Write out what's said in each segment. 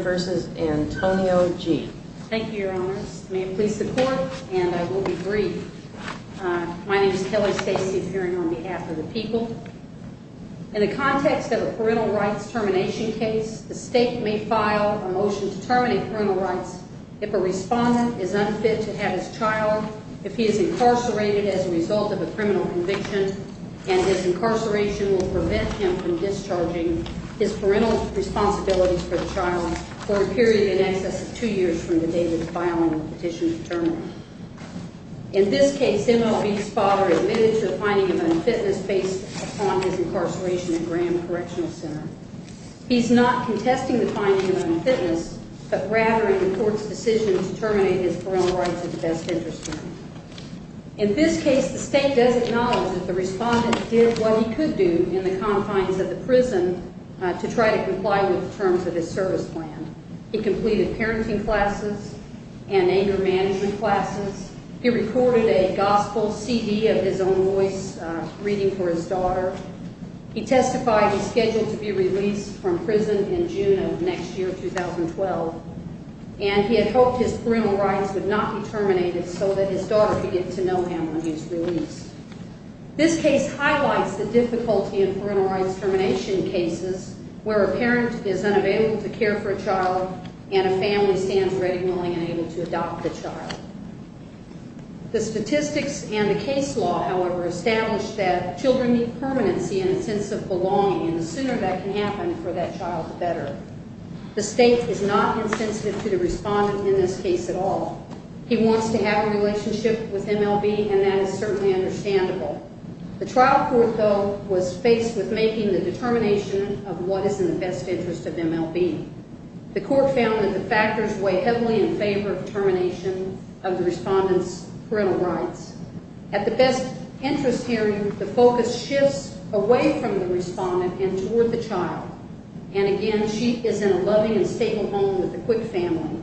versus Antonio G. Thank you, Your Honors. May it please the Court, and I will be brief. My name is Kelly Stacy, appearing on behalf of the people. In the context of a parental rights termination case, the State may file a motion to terminate parental rights if a respondent is unfit to have his child, if he is incarcerated as a result of a criminal conviction, and his incarceration will prevent him from discharging his parental rights. In this case, M.L.B.'s father admitted to the finding of unfitness based upon his incarceration at Graham Correctional Center. He is not contesting the finding of unfitness, but rather in the Court's decision to terminate his parental rights at the best interest term. In this case, the State does acknowledge that the respondent did what he could do in the confines of the prison to try to comply with the terms of his service plan. He completed parenting classes and anger management classes. He recorded a gospel CD of his own voice, reading for his daughter. He testified he's scheduled to be released from prison in June of next year, 2012, and he had hoped his parental rights would not be terminated so that his daughter could get to know him when he was released. This case highlights the difficulty in parental rights termination cases where a parent is unavailable to care for a child and a family stands ready, willing, and able to adopt the child. The statistics and the case law, however, establish that children need permanency and a sense of belonging, and the sooner that can happen for that child, the better. The State is not insensitive to the respondent in this case at all. He wants to have a relationship with M.L.B., and that determination of what is in the best interest of M.L.B. The court found that the factors weigh heavily in favor of termination of the respondent's parental rights. At the best interest hearing, the focus shifts away from the respondent and toward the child, and again, she is in a loving and stable home with a quick family.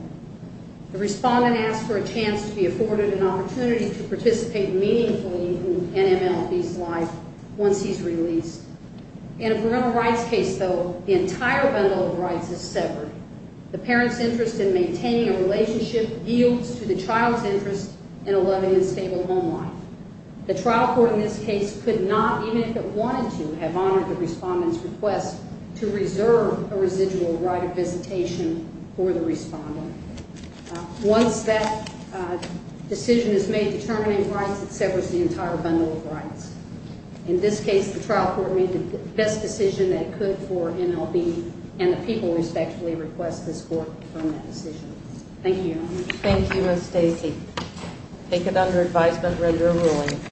The respondent asks for a chance to be afforded an opportunity to participate meaningfully in M.L.B.'s life once he's released. In a parental rights case, though, the entire bundle of rights is severed. The parent's interest in maintaining a relationship yields to the child's interest in a loving and stable home life. The trial court in this case could not, even if it wanted to, have honored the respondent's request to reserve a residual right of visitation for the respondent. Once that decision is made determining rights, it severs the entire bundle of rights. In this case, the trial court made the best decision that it could for M.L.B., and the people respectfully request this court to confirm that decision. Thank you. Thank you, Ms. Stacy. Take it under advisement. Render a ruling.